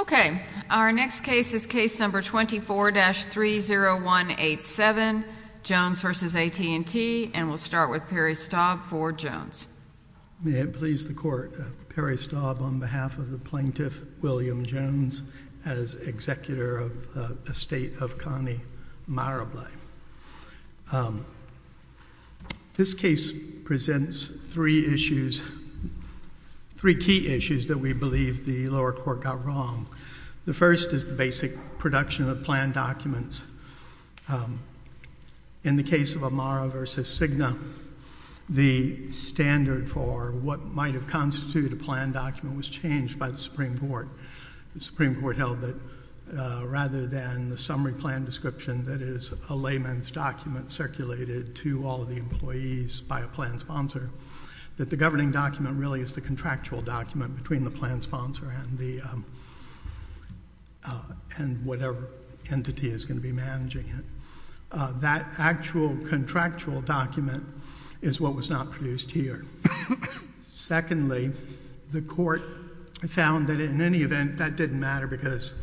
Okay, our next case is case number 24-30187, Jones v. AT&T, and we'll start with Perry Staub for Jones. May it please the Court, Perry Staub on behalf of the plaintiff, William Jones, as executor of the estate of Connie Marable. This case presents three issues, three key issues that we believe the lower court got wrong. The first is the basic production of planned documents. In the case of Amaro v. Cigna, the standard for what might have constituted a planned document was changed by the Supreme Court. The Supreme Court held that rather than the summary plan description that is a layman's document circulated to all of the employees by a planned sponsor, that the governing document really is the contractual document between the planned sponsor and the, and whatever entity is going to be managing it. That actual contractual document is what was not produced here. Secondly, the Court found that in any event, that didn't matter because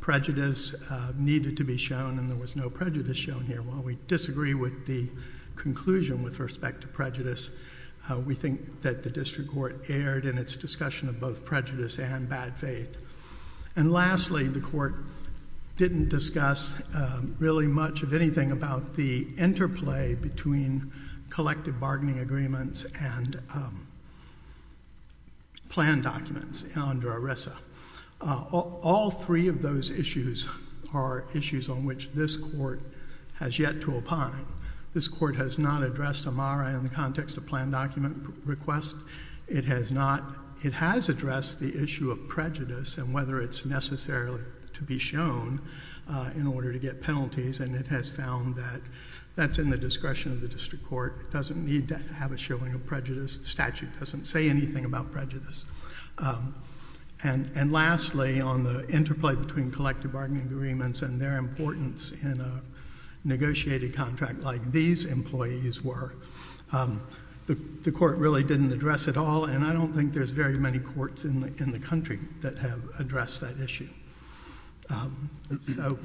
prejudice needed to be shown and there was no prejudice shown here. While we disagree with the conclusion with respect to prejudice, we think that the district court erred in its discussion of both prejudice and bad faith. And lastly, the Court didn't discuss really much of anything about the interplay between collective bargaining agreements and planned documents under ERISA. All three of those issues are issues on which this Court has yet to opine. This Court has not addressed Amaro in the context of planned document requests. It has not, it has addressed the issue of prejudice and whether it's necessary to be shown in order to get penalties and it has found that that's in the discretion of the district court. It doesn't need to have a showing of prejudice. The statute doesn't say anything about prejudice. And lastly, on the interplay between collective bargaining agreements and their importance in a negotiated contract like these employees were, the Court really didn't address it all and I don't think there's very many courts in the country that have addressed that issue. So,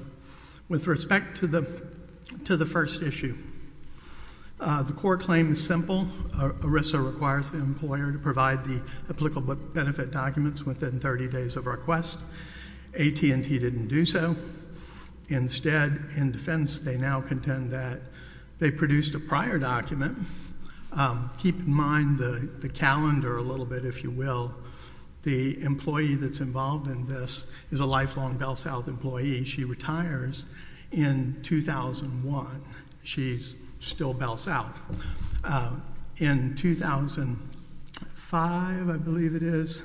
with respect to the first issue, the court claim is simple. ERISA requires the employer to provide the applicable benefit documents within 30 days of request. AT&T didn't do so. Instead, in defense, they now contend that they produced a prior document. Keep in mind the calendar a little bit, if you will. The employee that's involved in this is a lifelong Bell South employee. She retires in 2001. She's still Bell South. In 2005, I believe it is,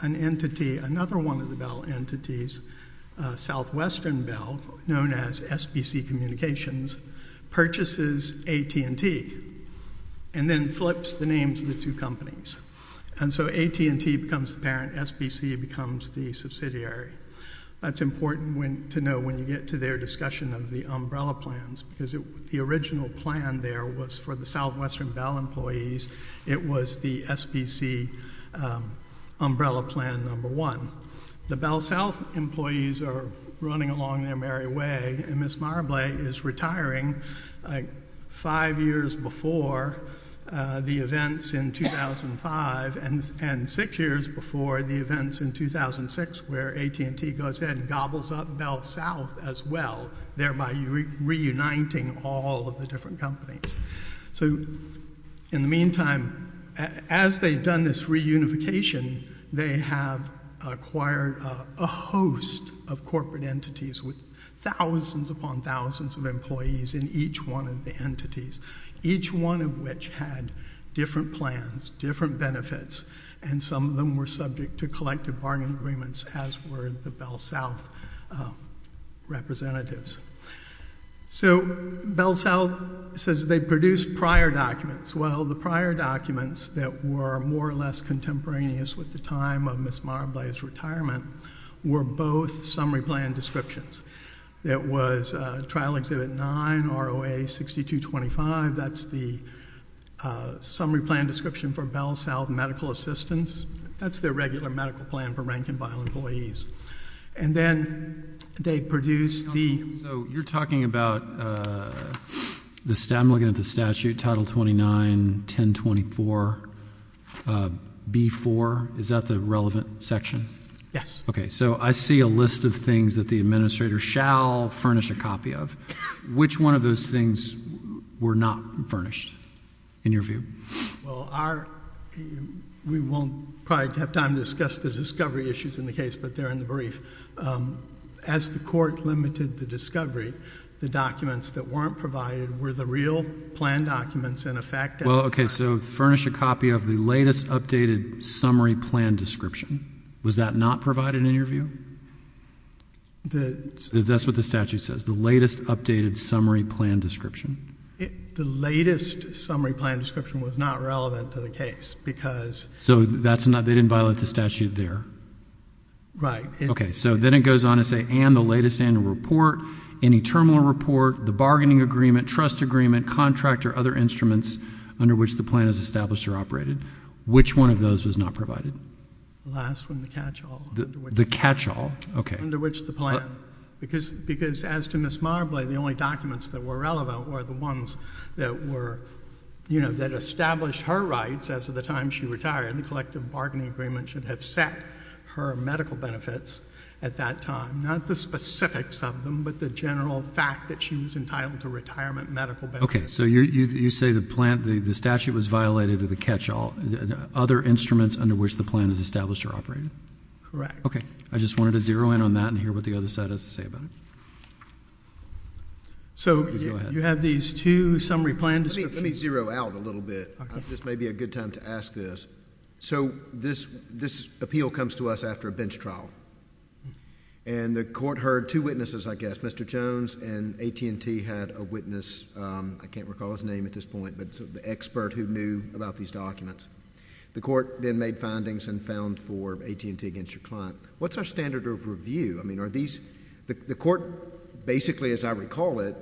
an entity, another one of the Bell entities, Southwestern Bell, known as SBC Communications, purchases AT&T and then flips the names of the two companies. And so AT&T becomes the parent, SBC becomes the subsidiary. That's important to know when you get to their discussion of the umbrella plans because the original plan there was for the Southwestern Bell employees. It was the SBC umbrella plan number one. The Bell South employees are running along their merry way and Ms. Marbley is retiring five years before the events in 2005 and six years before the events in 2006 where AT&T goes ahead and gobbles up Bell South as well, thereby reuniting all of the different companies. So in the meantime, as they've done this reunification, they have acquired a host of corporate entities with thousands upon thousands of employees in each one of the entities, each one of which had different plans, different benefits, and some of them were subject to collective bargaining agreements as were the Bell South representatives. So Bell South says they produced prior documents. Well, the prior documents that were more or less contemporaneous with the time of Ms. Marbley were the summary plan descriptions that was Trial Exhibit 9, ROA 6225. That's the summary plan description for Bell South Medical Assistance. That's their regular medical plan for rank and file employees. And then they produced the- So you're talking about, I'm looking at the statute, Title 29, 1024, B4, is that the relevant section? Yes. Okay, so I see a list of things that the administrator shall furnish a copy of. Which one of those things were not furnished, in your view? Well, we won't probably have time to discuss the discovery issues in the case, but they're in the brief. As the court limited the discovery, the documents that weren't provided were the real plan documents and a fact- Well, okay, so furnish a copy of the latest updated summary plan description. Was that not provided, in your view? That's what the statute says, the latest updated summary plan description. The latest summary plan description was not relevant to the case because- So they didn't violate the statute there? Right. Okay, so then it goes on to say, and the latest annual report, any terminal report, the bargaining agreement, trust agreement, contract, or other instruments under which the plan is established or operated. Which one of those was not provided? The last one, the catch-all. The catch-all, okay. Under which the plan, because as to Ms. Marbley, the only documents that were relevant were the ones that were, you know, that established her rights as of the time she retired. The collective bargaining agreement should have set her medical benefits at that time. Not the specifics of them, but the general fact that she was entitled to retirement medical benefits. Okay, so you say the statute was violated with the catch-all. Other instruments under which the plan is established or operated? Correct. Okay. I just wanted to zero in on that and hear what the other side has to say about it. So you have these two summary plan descriptions- Let me zero out a little bit. This may be a good time to ask this. So this appeal comes to us after a bench trial. And the court heard two witnesses, I guess. Mr. Jones and AT&T had a witness, I can't recall his name at this point, but the expert who knew about these documents. The court then made findings and found for AT&T against your client. What's our standard of review? I mean, are these, the court basically, as I recall it,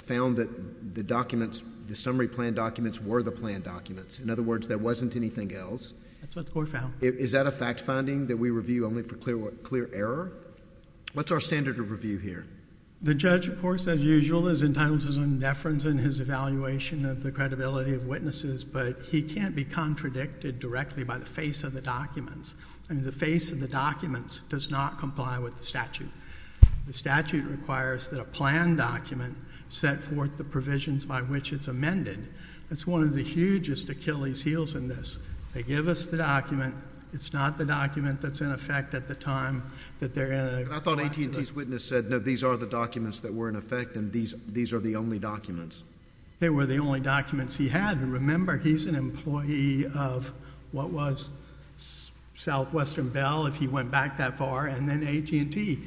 found that the documents, the summary plan documents were the plan documents. In other words, there wasn't anything else. That's what the court found. Is that a fact finding that we review only for clear word? Clear error? What's our standard of review here? The judge, of course, as usual, is entitled to some deference in his evaluation of the credibility of witnesses. But he can't be contradicted directly by the face of the documents. I mean, the face of the documents does not comply with the statute. The statute requires that a plan document set forth the provisions by which it's amended. That's one of the hugest Achilles heels in this. They give us the document. It's not the document that's in effect at the time that they're in a... I thought AT&T's witness said, no, these are the documents that were in effect, and these are the only documents. They were the only documents he had. Remember, he's an employee of what was Southwestern Bell, if he went back that far, and then AT&T. He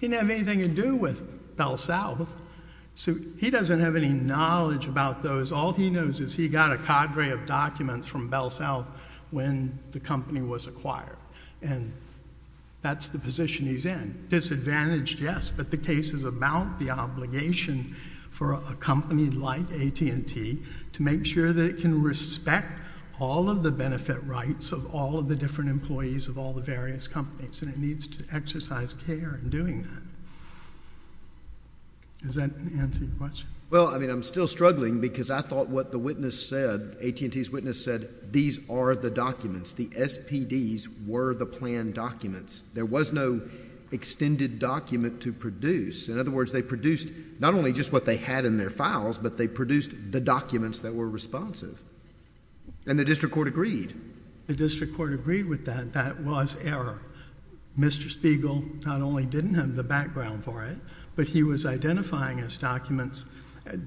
didn't have anything to do with Bell South. He doesn't have any knowledge about those. All he knows is he got a cadre of documents from Bell South when the company was acquired, and that's the position he's in. Disadvantaged, yes, but the case is about the obligation for a company like AT&T to make sure that it can respect all of the benefit rights of all of the different employees of all the various companies, and it needs to exercise care in doing that. Does that answer your question? Well, I mean, I'm still struggling because I thought what the witness said, AT&T's witness said, these are the documents. The SPDs were the planned documents. There was no extended document to produce. In other words, they produced not only just what they had in their files, but they produced the documents that were responsive, and the district court agreed. The district court agreed with that. That was error. Mr. Spiegel not only didn't have the background for it, but he was identifying as documents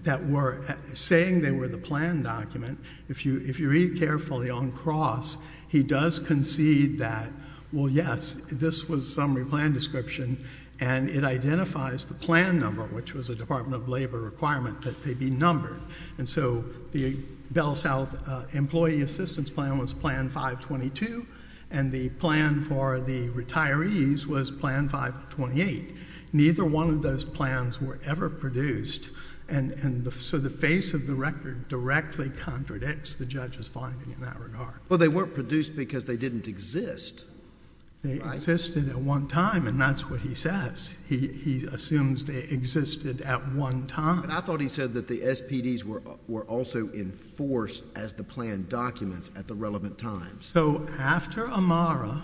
that were saying they were the planned document. If you read carefully on cross, he does concede that, well, yes, this was summary plan description, and it identifies the plan number, which was a Department of Labor requirement that they be numbered, and so the Bell South employee assistance plan was plan 522, and the plan for the retirees was plan 528. Neither one of those plans were ever produced, and so the face of the record directly contradicts the judge's finding in that regard. Well, they weren't produced because they didn't exist. They existed at one time, and that's what he says. He assumes they existed at one time. I thought he said that the SPDs were also enforced as the planned documents at the relevant time. So after Amara,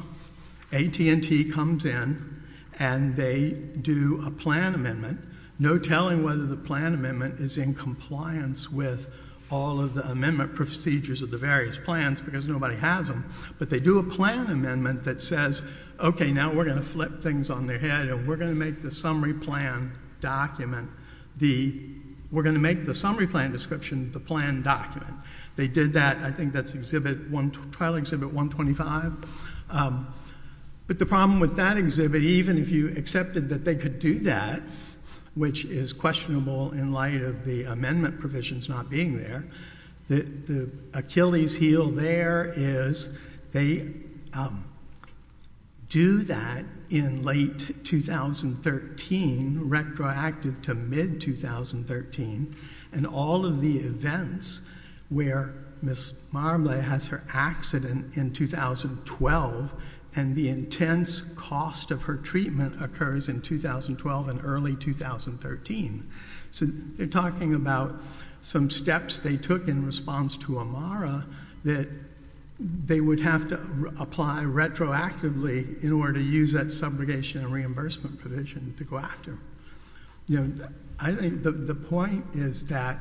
AT&T comes in, and they do a plan amendment. No telling whether the plan amendment is in compliance with all of the amendment procedures of the various plans because nobody has them, but they do a plan amendment that says, okay, now we're going to flip things on their head, and we're going to make the summary plan document the, we're going to make the summary plan description the planned document. They did that. I think that's exhibit one, trial exhibit 125, but the problem with that exhibit, even if you accepted that they could do that, which is questionable in light of the amendment provisions not being there, the Achilles heel there is they do that in late 2013, retroactive to mid-2013, and all of the events where Ms. Marbley has her accident in 2012, and the intense cost of her treatment occurs in 2012 and early 2013. So they're talking about some steps they took in response to Amara that they would have to apply retroactively in order to use that subrogation and reimbursement provision to go after. I think the point is that,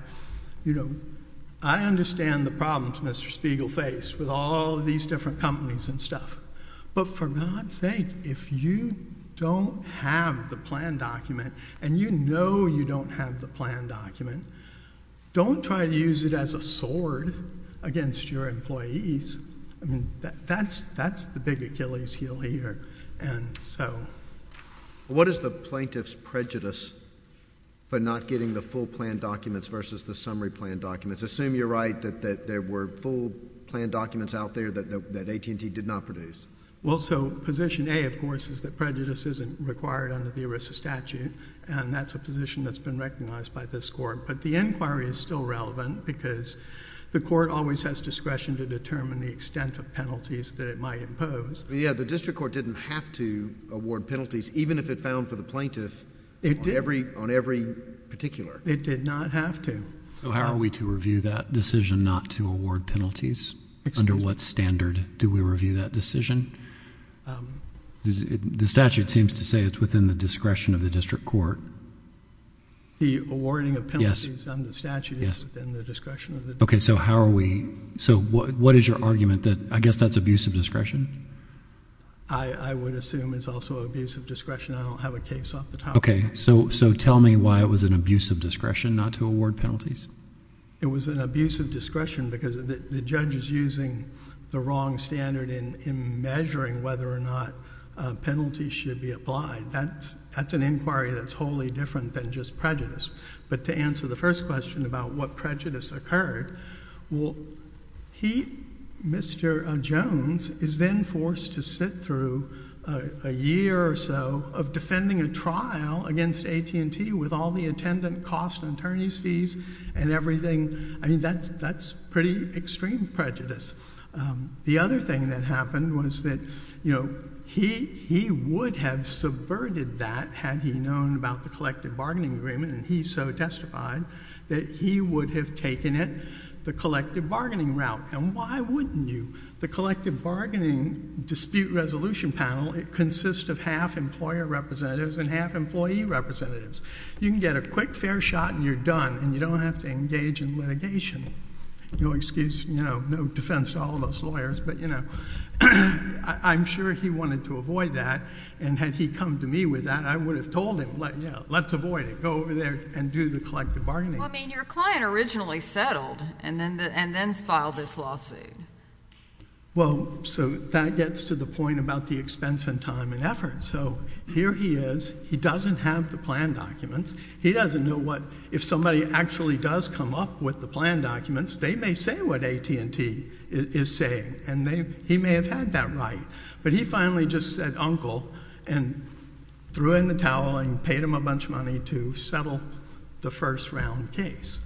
you know, I understand the problems Mr. Spiegel faced with all of these different companies and stuff, but for God's sake, if you don't have the plan document, and you know you don't have the plan document, don't try to use it as a sword against your employees, I mean, that's the big Achilles heel here, and so. What is the plaintiff's prejudice for not getting the full plan documents versus the summary plan documents? Assume you're right that there were full plan documents out there that AT&T did not produce. Well, so position A, of course, is that prejudice isn't required under the ERISA statute, and that's a position that's been recognized by this Court, but the inquiry is still relevant because the Court always has discretion to determine the extent of penalties that it might impose. Yeah, the district court didn't have to award penalties, even if it found for the plaintiff on every particular. It did not have to. So how are we to review that decision not to award penalties? Under what standard do we review that decision? The statute seems to say it's within the discretion of the district court. The awarding of penalties under the statute is within the discretion of the district court. Okay, so how are we... so what is your argument that... I guess that's abuse of I would assume it's also abuse of discretion. I don't have a case off the top of my head. Okay, so tell me why it was an abuse of discretion not to award penalties. It was an abuse of discretion because the judge is using the wrong standard in measuring whether or not penalties should be applied. That's an inquiry that's wholly different than just prejudice. But to answer the first question about what prejudice occurred, well, he, Mr. Jones, is then forced to sit through a year or so of defending a trial against AT&T with all the attendant cost and attorney's fees and everything. I mean, that's pretty extreme prejudice. The other thing that happened was that, you know, he would have subverted that had he known about the collective bargaining agreement, and he so testified that he would have taken it the collective bargaining route. And why wouldn't you? The collective bargaining dispute resolution panel, it consists of half employer representatives and half employee representatives. You can get a quick fair shot and you're done, and you don't have to engage in litigation. No excuse, you know, no defense to all of us lawyers, but, you know, I'm sure he wanted to avoid that, and had he come to me with that, I would have told him, you know, let's avoid it. Go over there and do the collective bargaining. Well, I mean, your client originally settled and then filed this lawsuit. Well, so that gets to the point about the expense and time and effort. So here he is. He doesn't have the plan documents. He doesn't know what, if somebody actually does come up with the plan documents, they may say what AT&T is saying, and he may have had that right. But he finally just said, uncle, and threw in the towel and paid him a bunch of money to settle the first round case.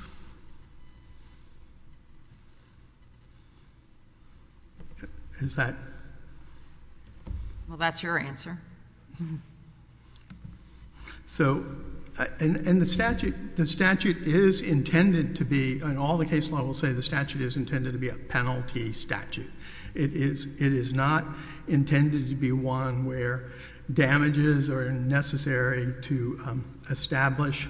Is that? Well, that's your answer. So, and the statute is intended to be, and all the case law will say the statute is intended to be a penalty statute. It is not intended to be one where damages are necessary to establish.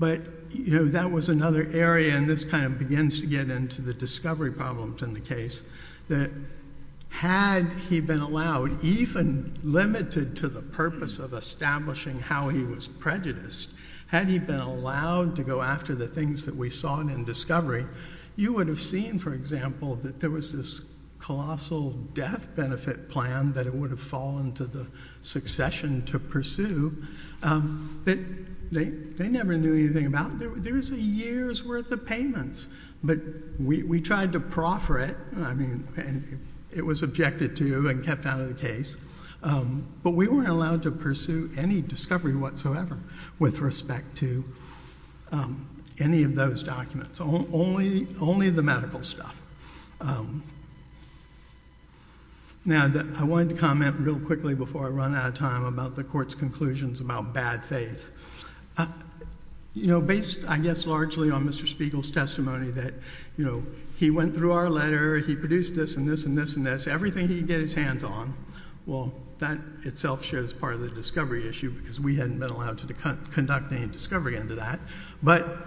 But, you know, that was another area, and this kind of begins to get into the discovery problems in the case, that had he been allowed, even limited to the purpose of establishing how he was prejudiced, had he been allowed to go after the things that we saw in discovery, you would have seen, for example, that there was this colossal death benefit plan that it would have fallen to the succession to pursue that they never knew anything about. There's a year's worth of payments. But we tried to proffer it. I mean, it was objected to and kept out of the case. But we weren't allowed to pursue any discovery whatsoever with respect to any of those documents. Only the medical stuff. Now, I wanted to comment real quickly before I run out of time about the Court's conclusions about bad faith. You know, based, I guess, largely on Mr. Spiegel's testimony that, you know, he went through our letter, he produced this and this and this and this, everything he could get his hands on, well, that itself shows part of the discovery issue because we hadn't been allowed to conduct any discovery into that. But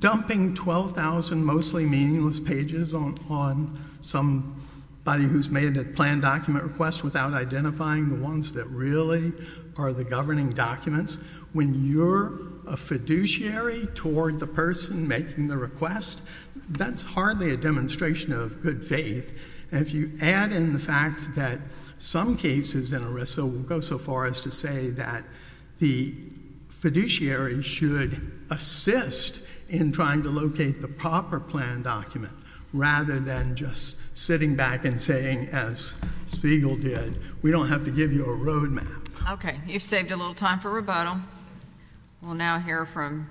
dumping 12,000 mostly meaningless pages on somebody who's made a planned document without identifying the ones that really are the governing documents, when you're a fiduciary toward the person making the request, that's hardly a demonstration of good faith. If you add in the fact that some cases in ERISA will go so far as to say that the fiduciary should assist in trying to locate the proper planned document rather than just sitting back and saying, as Spiegel did, we don't have to give you a road map. Okay, you've saved a little time for rebuttal. We'll now hear from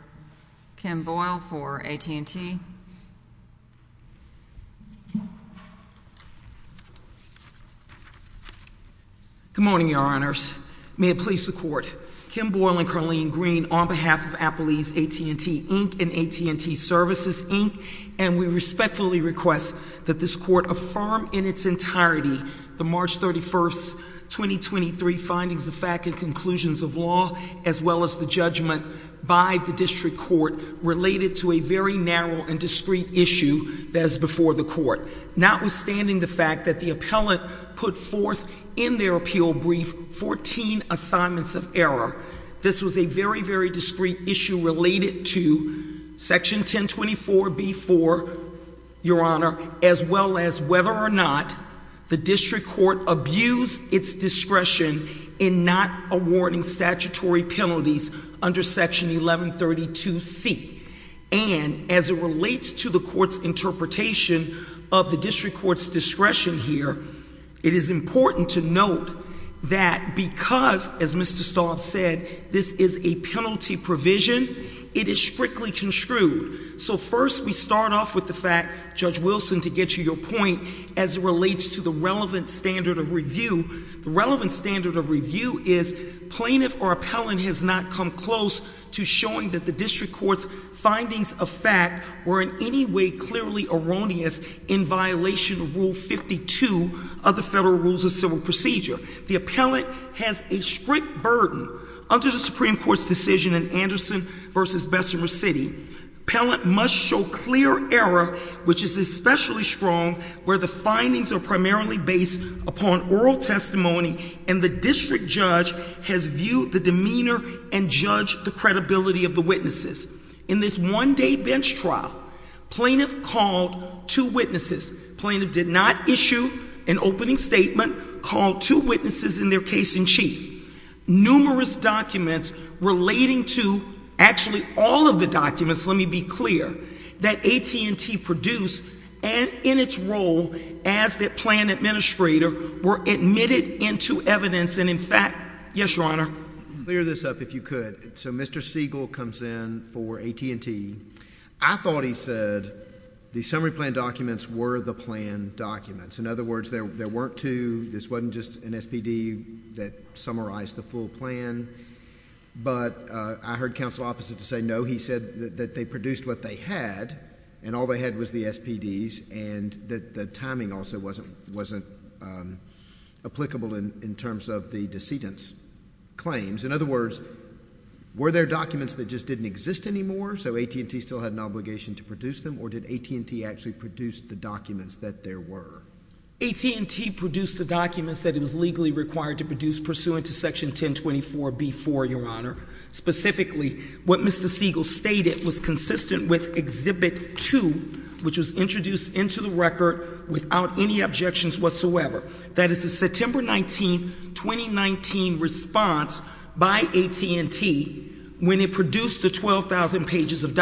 Kim Boyle for AT&T. Good morning, Your Honors. May it please the Court, Kim Boyle and Carlene Green on behalf of Applebee's AT&T Inc. and AT&T Services Inc., and we respectfully request that this Court affirm in its entirety the March 31st, 2023, findings of fact and conclusions of law as well as the judgment by the District Court related to a very narrow and discreet issue that is before the Court. Notwithstanding the fact that the appellant put forth in their appeal brief 14 assignments of error, this was a very, very discreet issue related to Section 1024B4, Your Honor, as well as whether or not the District Court abused its discretion in not awarding statutory penalties under Section 1132C. And as it relates to the Court's interpretation of the District Court's discretion here, it is important to note that because, as Mr. Staub said, this is a penalty provision, it is strictly construed. So first, we start off with the fact, Judge Wilson, to get to your point as it relates to the relevant standard of review. The relevant standard of review is plaintiff or appellant has not come close to showing that the District Court's findings of fact were in any way clearly erroneous in violation of Rule 52 of the Federal Rules of Civil Procedure. The appellant has a strict burden. Under the Supreme Court's decision in Anderson v. Bessemer City, appellant must show clear error, which is especially strong where the findings are primarily based upon oral testimony and the District Judge has viewed the demeanor and judged the credibility of the witnesses. In this one-day bench trial, plaintiff called two witnesses. Plaintiff did not issue an opening statement, called two witnesses in their case-in-chief. Numerous documents relating to, actually, all of the documents, let me be clear, that AT&T produced and in its role as the plan administrator were admitted into evidence and, in fact, yes, Your Honor? Clear this up, if you could. So Mr. Siegel comes in for AT&T. I thought he said the summary plan documents were the plan documents. In other words, there weren't two. This wasn't just an SPD that summarized the full plan, but I heard counsel opposite to say, no, he said that they produced what they had and all they had was the SPDs and that timing also wasn't applicable in terms of the decedent's claims. In other words, were there documents that just didn't exist anymore, so AT&T still had an obligation to produce them, or did AT&T actually produce the documents that there were? AT&T produced the documents that it was legally required to produce pursuant to Section 1024 B.4, Your Honor. Specifically, what Mr. Siegel stated was consistent with Exhibit 2, which was introduced into the record without any objections whatsoever. That is the September 19, 2019 response by AT&T when it produced the 12,000 pages of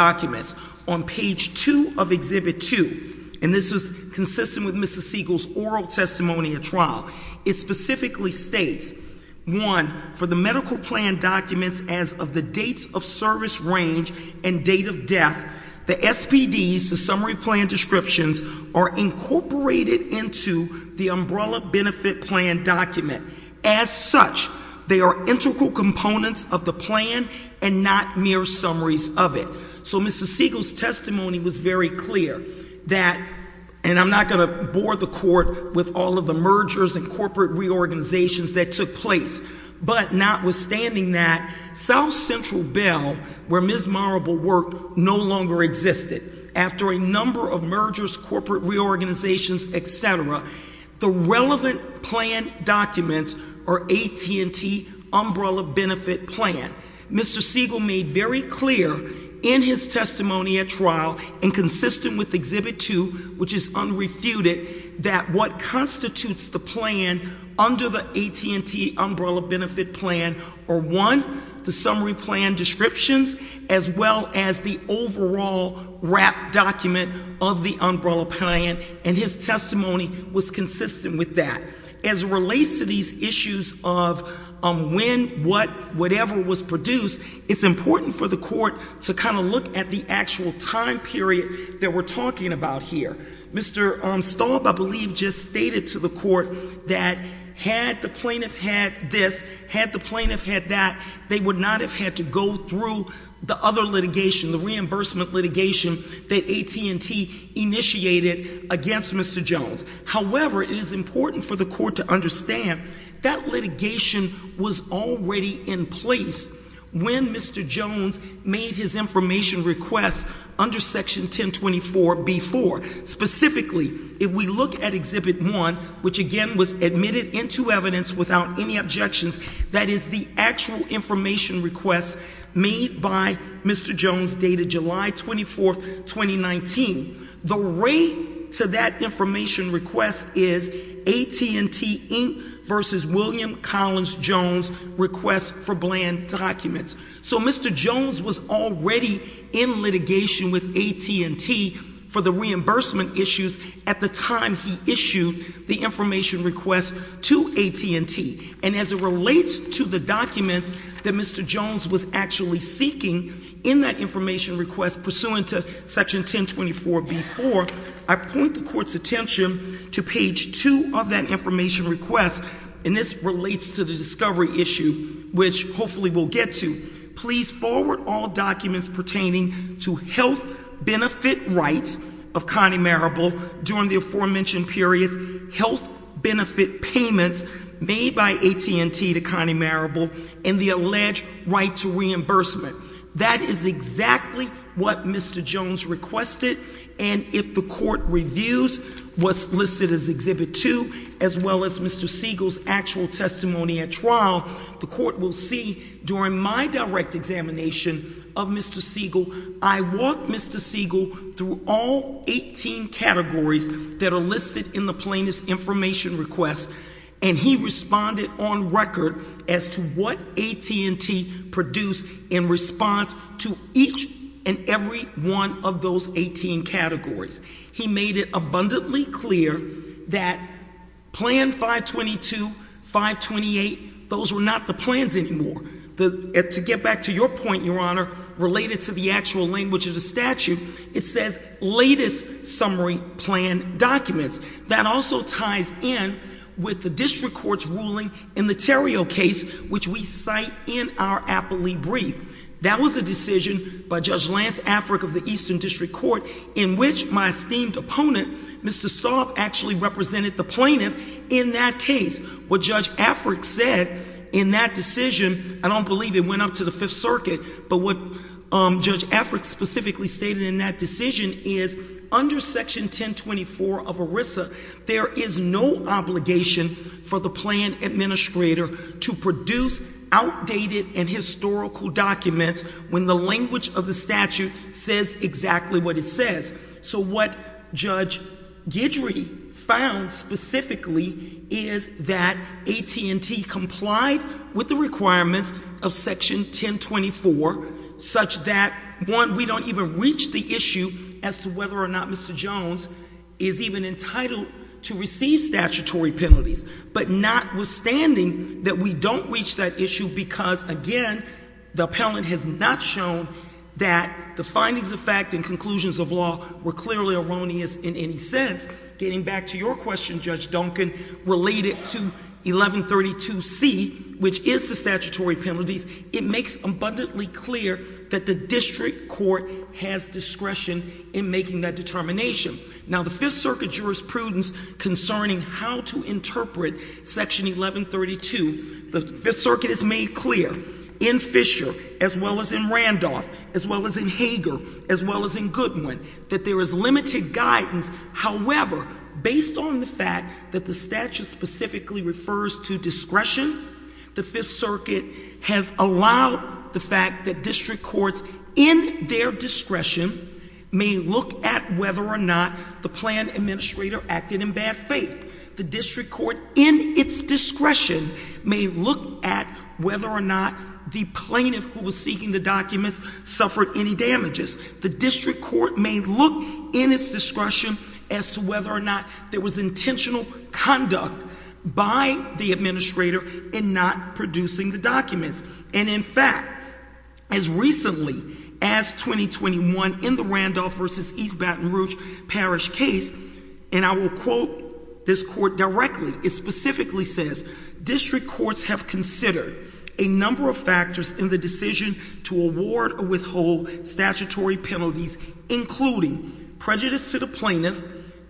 On page 2 of Exhibit 2, and this is consistent with Mr. Siegel's oral testimony at trial, it specifically states, one, for the medical plan documents as of the dates of service range and date of death, the SPDs, the summary plan descriptions, are incorporated into the umbrella benefit plan document. As such, they are integral components of the plan and not mere summaries of it. So Mr. Siegel's testimony was very clear that, and I'm not going to bore the Court with all of the mergers and corporate reorganizations that took place, but notwithstanding that, South Central Bell, where Ms. Marable worked, no longer existed. After a number of mergers, corporate reorganizations, et cetera, the relevant plan documents are AT&T umbrella benefit plan. Mr. Siegel made very clear in his testimony at trial and consistent with Exhibit 2, which is unrefuted, that what constitutes the plan under the AT&T umbrella benefit plan are, one, the summary plan descriptions, as well as the overall wrapped document of the umbrella plan, and his testimony was consistent with that. As it relates to these issues of when, what, whatever was produced, it's important for the Court to kind of look at the actual time period that we're talking about here. Mr. Staub, I believe, just stated to the Court that had the plaintiff had this, had the plaintiff had that, they would not have had to go through the other litigation, the reimbursement litigation that AT&T initiated against Mr. Jones. However, it is important for the Court to understand that litigation was already in place when Mr. Jones made his information request under Section 1024b-4. Specifically, if we look at Exhibit 1, which again was admitted into evidence without any objections, that is the actual information request made by Mr. Jones dated July 24, 2019. The rate to that information request is AT&T Inc. v. William Collins Jones' request for bland documents. So Mr. Jones was already in litigation with AT&T for the reimbursement issues at the time he issued the information request to AT&T. And as it relates to the documents that Mr. Jones was actually seeking in that information request pursuant to Section 1024b-4, I point the Court's attention to page 2 of that information request, and this relates to the discovery issue, which hopefully we'll get to. Please forward all documents pertaining to health benefit rights of Connie Marable during the aforementioned periods, health benefit payments made by AT&T to Connie Marable, and the alleged right to reimbursement. That is exactly what Mr. Jones requested, and if the Court reviews what's listed as Exhibit 2, as well as Mr. Siegel's actual testimony at trial, the Court will see during my direct examination of Mr. Siegel, I walked Mr. Siegel through all 18 categories that are listed in the plaintiff's information request, and he responded on record as to what AT&T produced in response to each and every one of those 18 categories. He made it abundantly clear that Plan 522, 528, those were not the plans anymore. To get back to your point, Your Honor, related to the actual language of the statute, it says, latest summary plan documents. That also ties in with the district court's ruling in the Terrio case, which we cite in our appellee brief. That was a decision by Judge Lance Afric of the Eastern District Court, in which my esteemed opponent, Mr. Staub, actually represented the plaintiff in that case. What Judge Afric said in that decision, I don't believe it went up to the Fifth Circuit, but what Judge Afric specifically stated in that decision is, under Section 1024 of ERISA, there is no obligation for the plan administrator to produce outdated and historical documents when the language of the statute says exactly what it says. So what Judge Guidry found specifically is that AT&T complied with the requirements of Section 1024, such that, one, we don't even reach the issue as to whether or not Mr. Jones is even entitled to receive statutory penalties. But notwithstanding that we don't reach that issue because, again, the appellant has not shown that the findings of fact and conclusions of law were clearly erroneous in any sense. Getting back to your question, Judge Duncan, related to 1132C, which is the statutory penalties, it makes abundantly clear that the district court has discretion in making that determination. Now the Fifth Circuit jurisprudence concerning how to interpret Section 1132, the Fifth Circuit has made clear in Fisher, as well as in Randolph, as well as in Hager, as well as in Goodwin, that there is limited guidance. However, based on the fact that the statute specifically refers to discretion, the Fifth whether or not the planned administrator acted in bad faith. The district court, in its discretion, may look at whether or not the plaintiff who was seeking the documents suffered any damages. The district court may look, in its discretion, as to whether or not there was intentional conduct by the administrator in not producing the documents. And in fact, as recently as 2021, in the Randolph versus East Baton Rouge parish case, and I will quote this court directly, it specifically says, district courts have considered a number of factors in the decision to award or withhold statutory penalties, including prejudice to the plaintiff,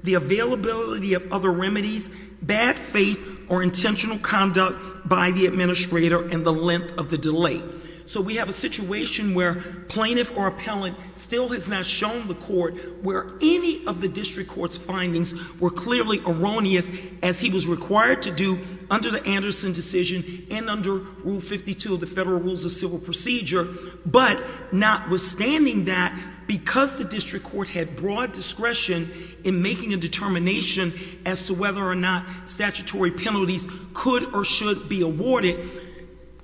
the availability of other remedies, bad faith or intentional conduct by the administrator and the length of the delay. So we have a situation where plaintiff or appellant still has not shown the court where any of the district court's findings were clearly erroneous, as he was required to do under the Anderson decision and under Rule 52 of the Federal Rules of Civil Procedure. But notwithstanding that, because the district court had broad discretion in making a as to whether or not statutory penalties could or should be awarded,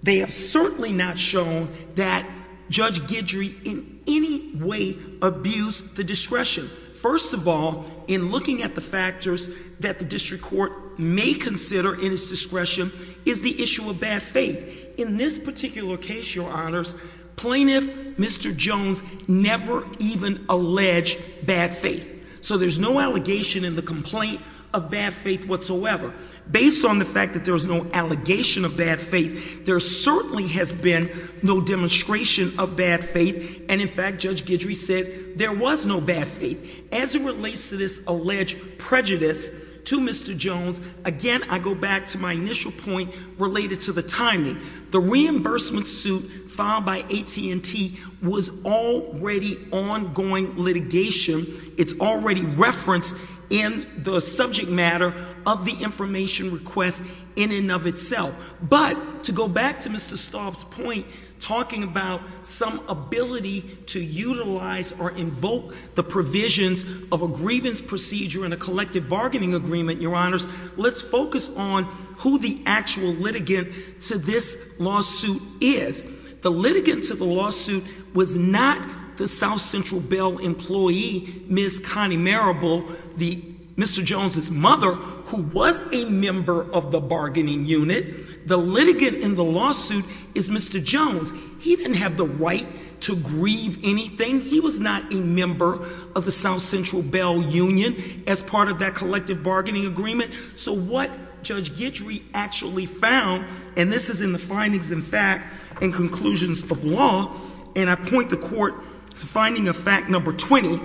they have certainly not shown that Judge Guidry in any way abused the discretion. First of all, in looking at the factors that the district court may consider in its discretion is the issue of bad faith. In this particular case, Your Honors, plaintiff, Mr. Jones, never even alleged bad faith. So there's no allegation in the complaint of bad faith whatsoever. Based on the fact that there was no allegation of bad faith, there certainly has been no demonstration of bad faith. And in fact, Judge Guidry said there was no bad faith. As it relates to this alleged prejudice to Mr. Jones, again, I go back to my initial point related to the timing. The reimbursement suit filed by AT&T was already ongoing litigation. It's already referenced in the subject matter of the information request in and of itself. But to go back to Mr. Staub's point, talking about some ability to utilize or invoke the provisions of a grievance procedure in a collective bargaining agreement, Your Honors, let's focus on who the actual litigant to this lawsuit is. The litigant to the lawsuit was not the South Central Bell employee, Ms. Connie Marable, Mr. Jones' mother, who was a member of the bargaining unit. The litigant in the lawsuit is Mr. Jones. He didn't have the right to grieve anything. He was not a member of the South Central Bell union as part of that collective bargaining agreement. So what Judge Guidry actually found, and this is in the findings in fact and conclusions of law, and I point the court to finding of fact number 20,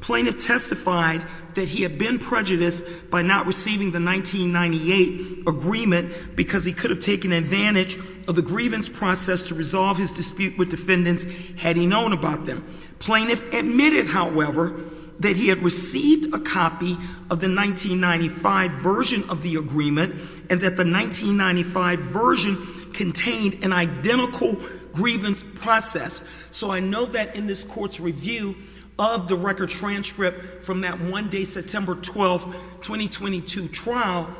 plaintiff testified that he had been prejudiced by not receiving the 1998 agreement because he could have taken advantage of the grievance process to resolve his dispute with defendants had he known about them. Plaintiff admitted, however, that he had received a copy of the 1995 version of the agreement and that the 1995 version contained an identical grievance process. So I know that in this court's review of the record transcript from that one day, September 12, 2022 trial,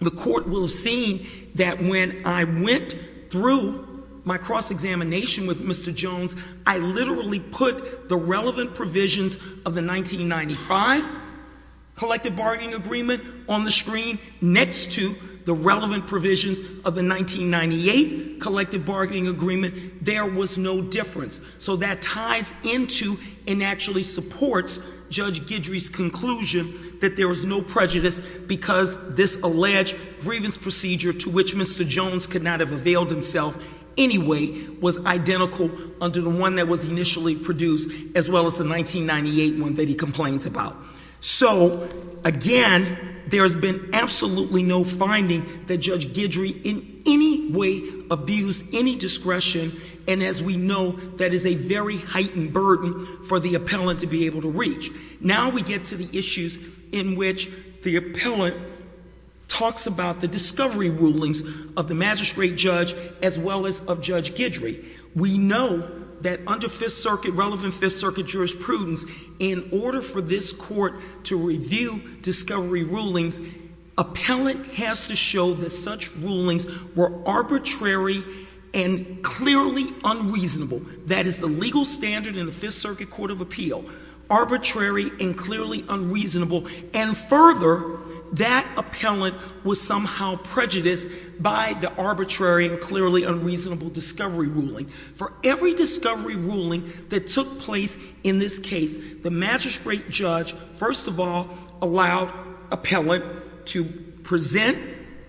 the court will have seen that when I went through my cross-examination with Mr. Jones, I literally put the relevant provisions of the 1995 collective bargaining agreement on the screen next to the relevant provisions of the 1998 collective bargaining agreement. There was no difference. So that ties into and actually supports Judge Guidry's conclusion that there was no prejudice because this alleged grievance procedure to which Mr. Jones could not have availed himself anyway was identical under the one that was initially produced as well as the 1998 one that he complains about. So again, there has been absolutely no finding that Judge Guidry in any way abused any discretion and as we know, that is a very heightened burden for the appellant to be able to reach. Now we get to the issues in which the appellant talks about the discovery rulings of the magistrate judge as well as of Judge Guidry. We know that under Fifth Circuit, relevant Fifth Circuit jurisprudence, in order for this court to review discovery rulings, appellant has to show that such rulings were arbitrary and clearly unreasonable. That is the legal standard in the Fifth Circuit Court of Appeal, arbitrary and clearly unreasonable and further, that appellant was somehow prejudiced by the arbitrary and clearly unreasonable discovery ruling. For every discovery ruling that took place in this case, the magistrate judge, first of all, allowed appellant to present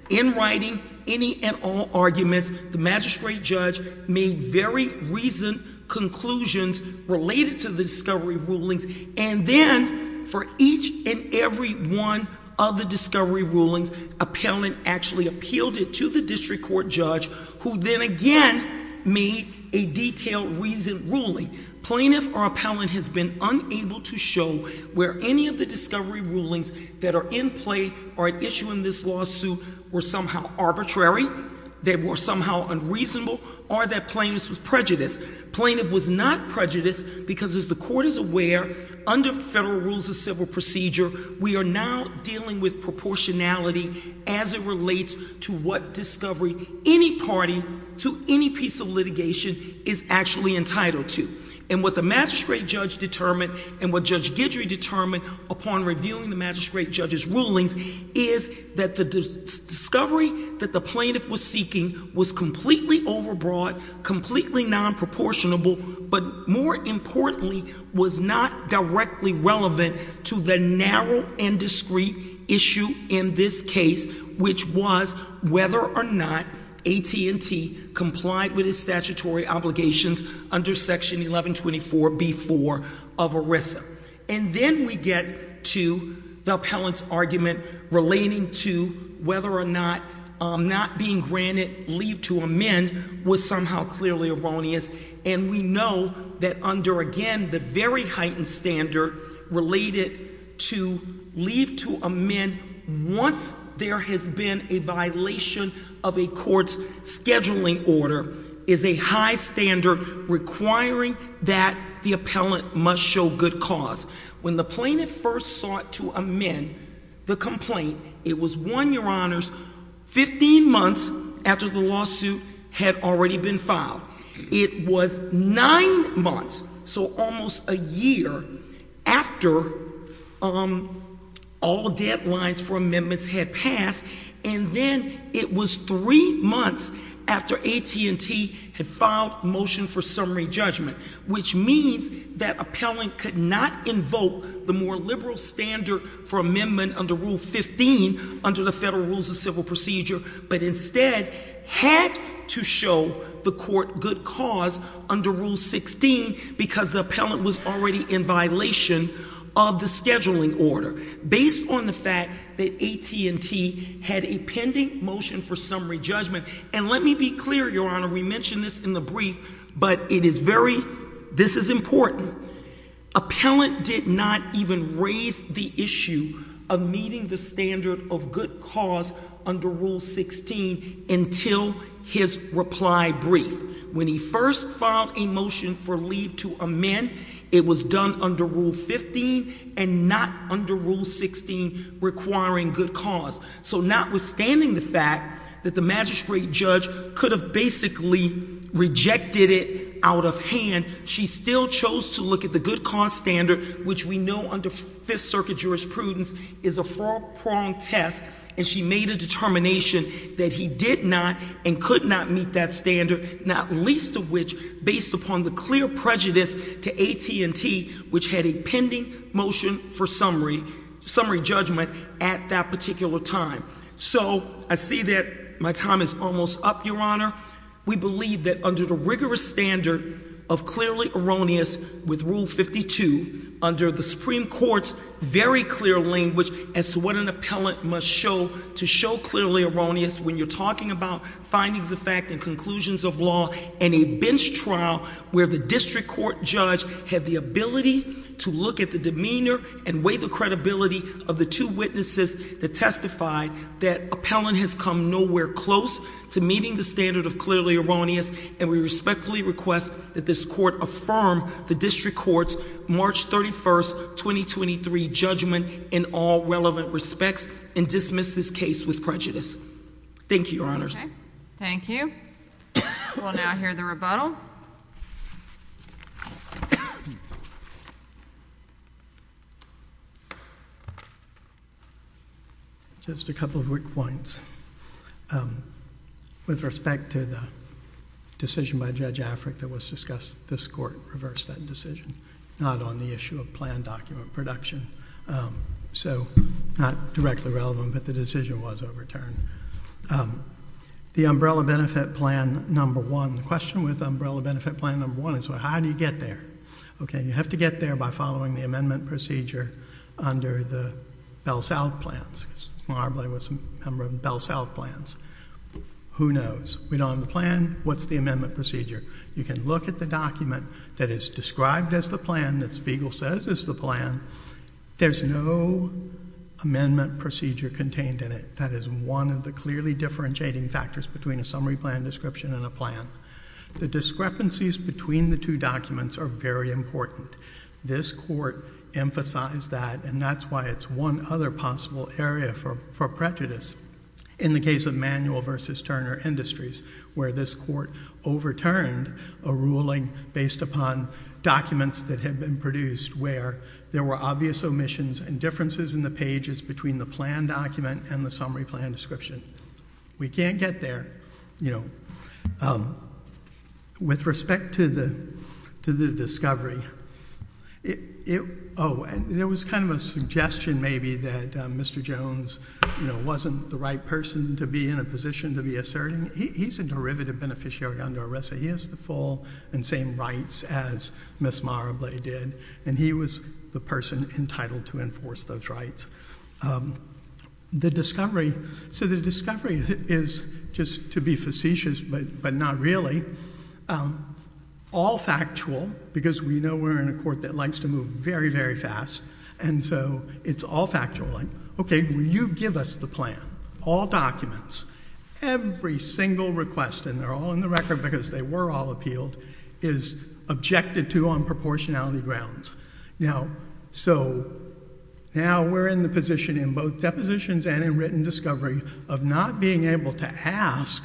in writing any and all arguments. The magistrate judge made very reasoned conclusions related to the discovery rulings and then for each and every one of the discovery rulings, appellant actually appealed it to the district court judge who then again made a detailed reasoned ruling. Plaintiff or appellant has been unable to show where any of the discovery rulings that are in play or at issue in this lawsuit were somehow arbitrary, that were somehow unreasonable or that plaintiff was prejudiced. Plaintiff was not prejudiced because as the court is aware, under federal rules of civil procedure, we are now dealing with proportionality as it relates to what discovery any party to any piece of litigation is actually entitled to. And what the magistrate judge determined and what Judge Guidry determined upon reviewing the magistrate judge's rulings is that the discovery that the plaintiff was seeking was completely overbroad, completely non-proportionable, but more importantly was not directly relevant to the narrow and discreet issue in this case, which was whether or not AT&T complied with its statutory obligations under section 1124B-4 of ERISA. And then we get to the appellant's argument relating to whether or not not being granted leave to amend was somehow clearly erroneous. And we know that under, again, the very heightened standard related to leave to amend once there has been a violation of a court's scheduling order is a high standard requiring that the appellant must show good cause. When the plaintiff first sought to amend the complaint, it was one, Your Honors, 15 months after the lawsuit had already been filed. It was nine months, so almost a year, after all deadlines for amendments had passed, and then it was three months after AT&T had filed motion for summary judgment, which means that appellant could not invoke the more liberal standard for amendment under Rule 15 under the Federal Rules of Civil Procedure, but instead had to show the court good cause under Rule 16 because the appellant was already in violation of the scheduling order. Based on the fact that AT&T had a pending motion for summary judgment, and let me be clear, Your Honor, we mentioned this in the brief, but it is very, this is important, appellant did not even raise the issue of meeting the standard of good cause under Rule 16 until his reply brief. When he first filed a motion for leave to amend, it was done under Rule 15 and not under Rule 16 requiring good cause. So notwithstanding the fact that the magistrate judge could have basically rejected it out of hand, she still chose to look at the good cause standard, which we know under Fifth Circuit jurisprudence is a four-pronged test, and she made a determination that he did not and could not meet that standard, not least of which based upon the clear prejudice to AT&T, which had a pending motion for summary judgment at that particular time. So I see that my time is almost up, Your Honor. We believe that under the rigorous standard of clearly erroneous with Rule 52, under the Supreme Court's very clear language as to what an appellant must show to show clearly erroneous when you're talking about findings of fact and conclusions of law in a bench trial where the district court judge had the ability to look at the demeanor and weigh the credibility of the two witnesses that testified, that appellant has come nowhere close to meeting the standard of clearly erroneous, and we respectfully request that this court affirm the district court's March 31, 2023 judgment in all relevant respects and dismiss this case with prejudice. Thank you, Your Honors. Okay. Thank you. We'll now hear the rebuttal. Just a couple of quick points. With respect to the decision by Judge Afric that was discussed, this court reversed that decision, not on the issue of planned document production. So not directly relevant, but the decision was overturned. The umbrella benefit plan number one, the question with umbrella benefit plan number one is how do you get there? Okay. You have to get there by following the amendment procedure under the Bell-South plans. Who knows? We don't have the plan. What's the amendment procedure? You can look at the document that is described as the plan, that Spiegel says is the plan. There's no amendment procedure contained in it. That is one of the clearly differentiating factors between a summary plan description and a plan. The discrepancies between the two documents are very important. This court emphasized that, and that's why it's one other possible area for prejudice. In the case of Manual v. Turner Industries, where this court overturned a ruling based upon documents that had been produced where there were obvious omissions and differences in the pages between the plan document and the summary plan description. We can't get there. With respect to the discovery, oh, and there was kind of a suggestion maybe that Mr. Jones wasn't the right person to be in a position to be asserting. He's a derivative beneficiary under ARESA. He has the full and same rights as Ms. Marable did, and he was the person entitled to enforce those rights. So the discovery is, just to be facetious but not really, all factual, because we know we're in a court that likes to move very, very fast, and so it's all factual. Okay, you give us the plan, all documents, every single request, and they're all in the record because they were all appealed, is objected to on proportionality grounds. Now, so now we're in the position in both depositions and in written discovery of not being able to ask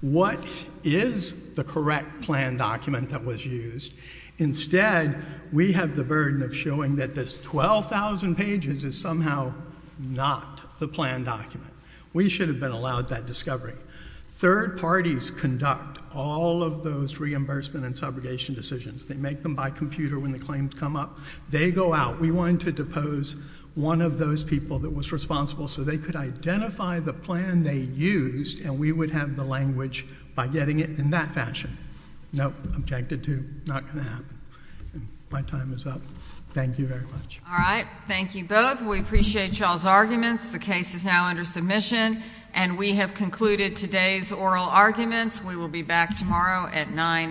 what is the correct plan document that was used. Instead, we have the burden of showing that this 12,000 pages is somehow not the plan document. We should have been allowed that discovery. Third parties conduct all of those reimbursement and subrogation decisions. They make them by computer when the claims come up. They go out. We wanted to depose one of those people that was responsible so they could identify the plan they used, and we would have the language by getting it in that fashion. No, objected to, not going to happen. My time is up. Thank you very much. All right. Thank you both. We appreciate y'all's arguments. The case is now under submission, and we have concluded today's oral arguments. We will be back tomorrow at 9 a.m.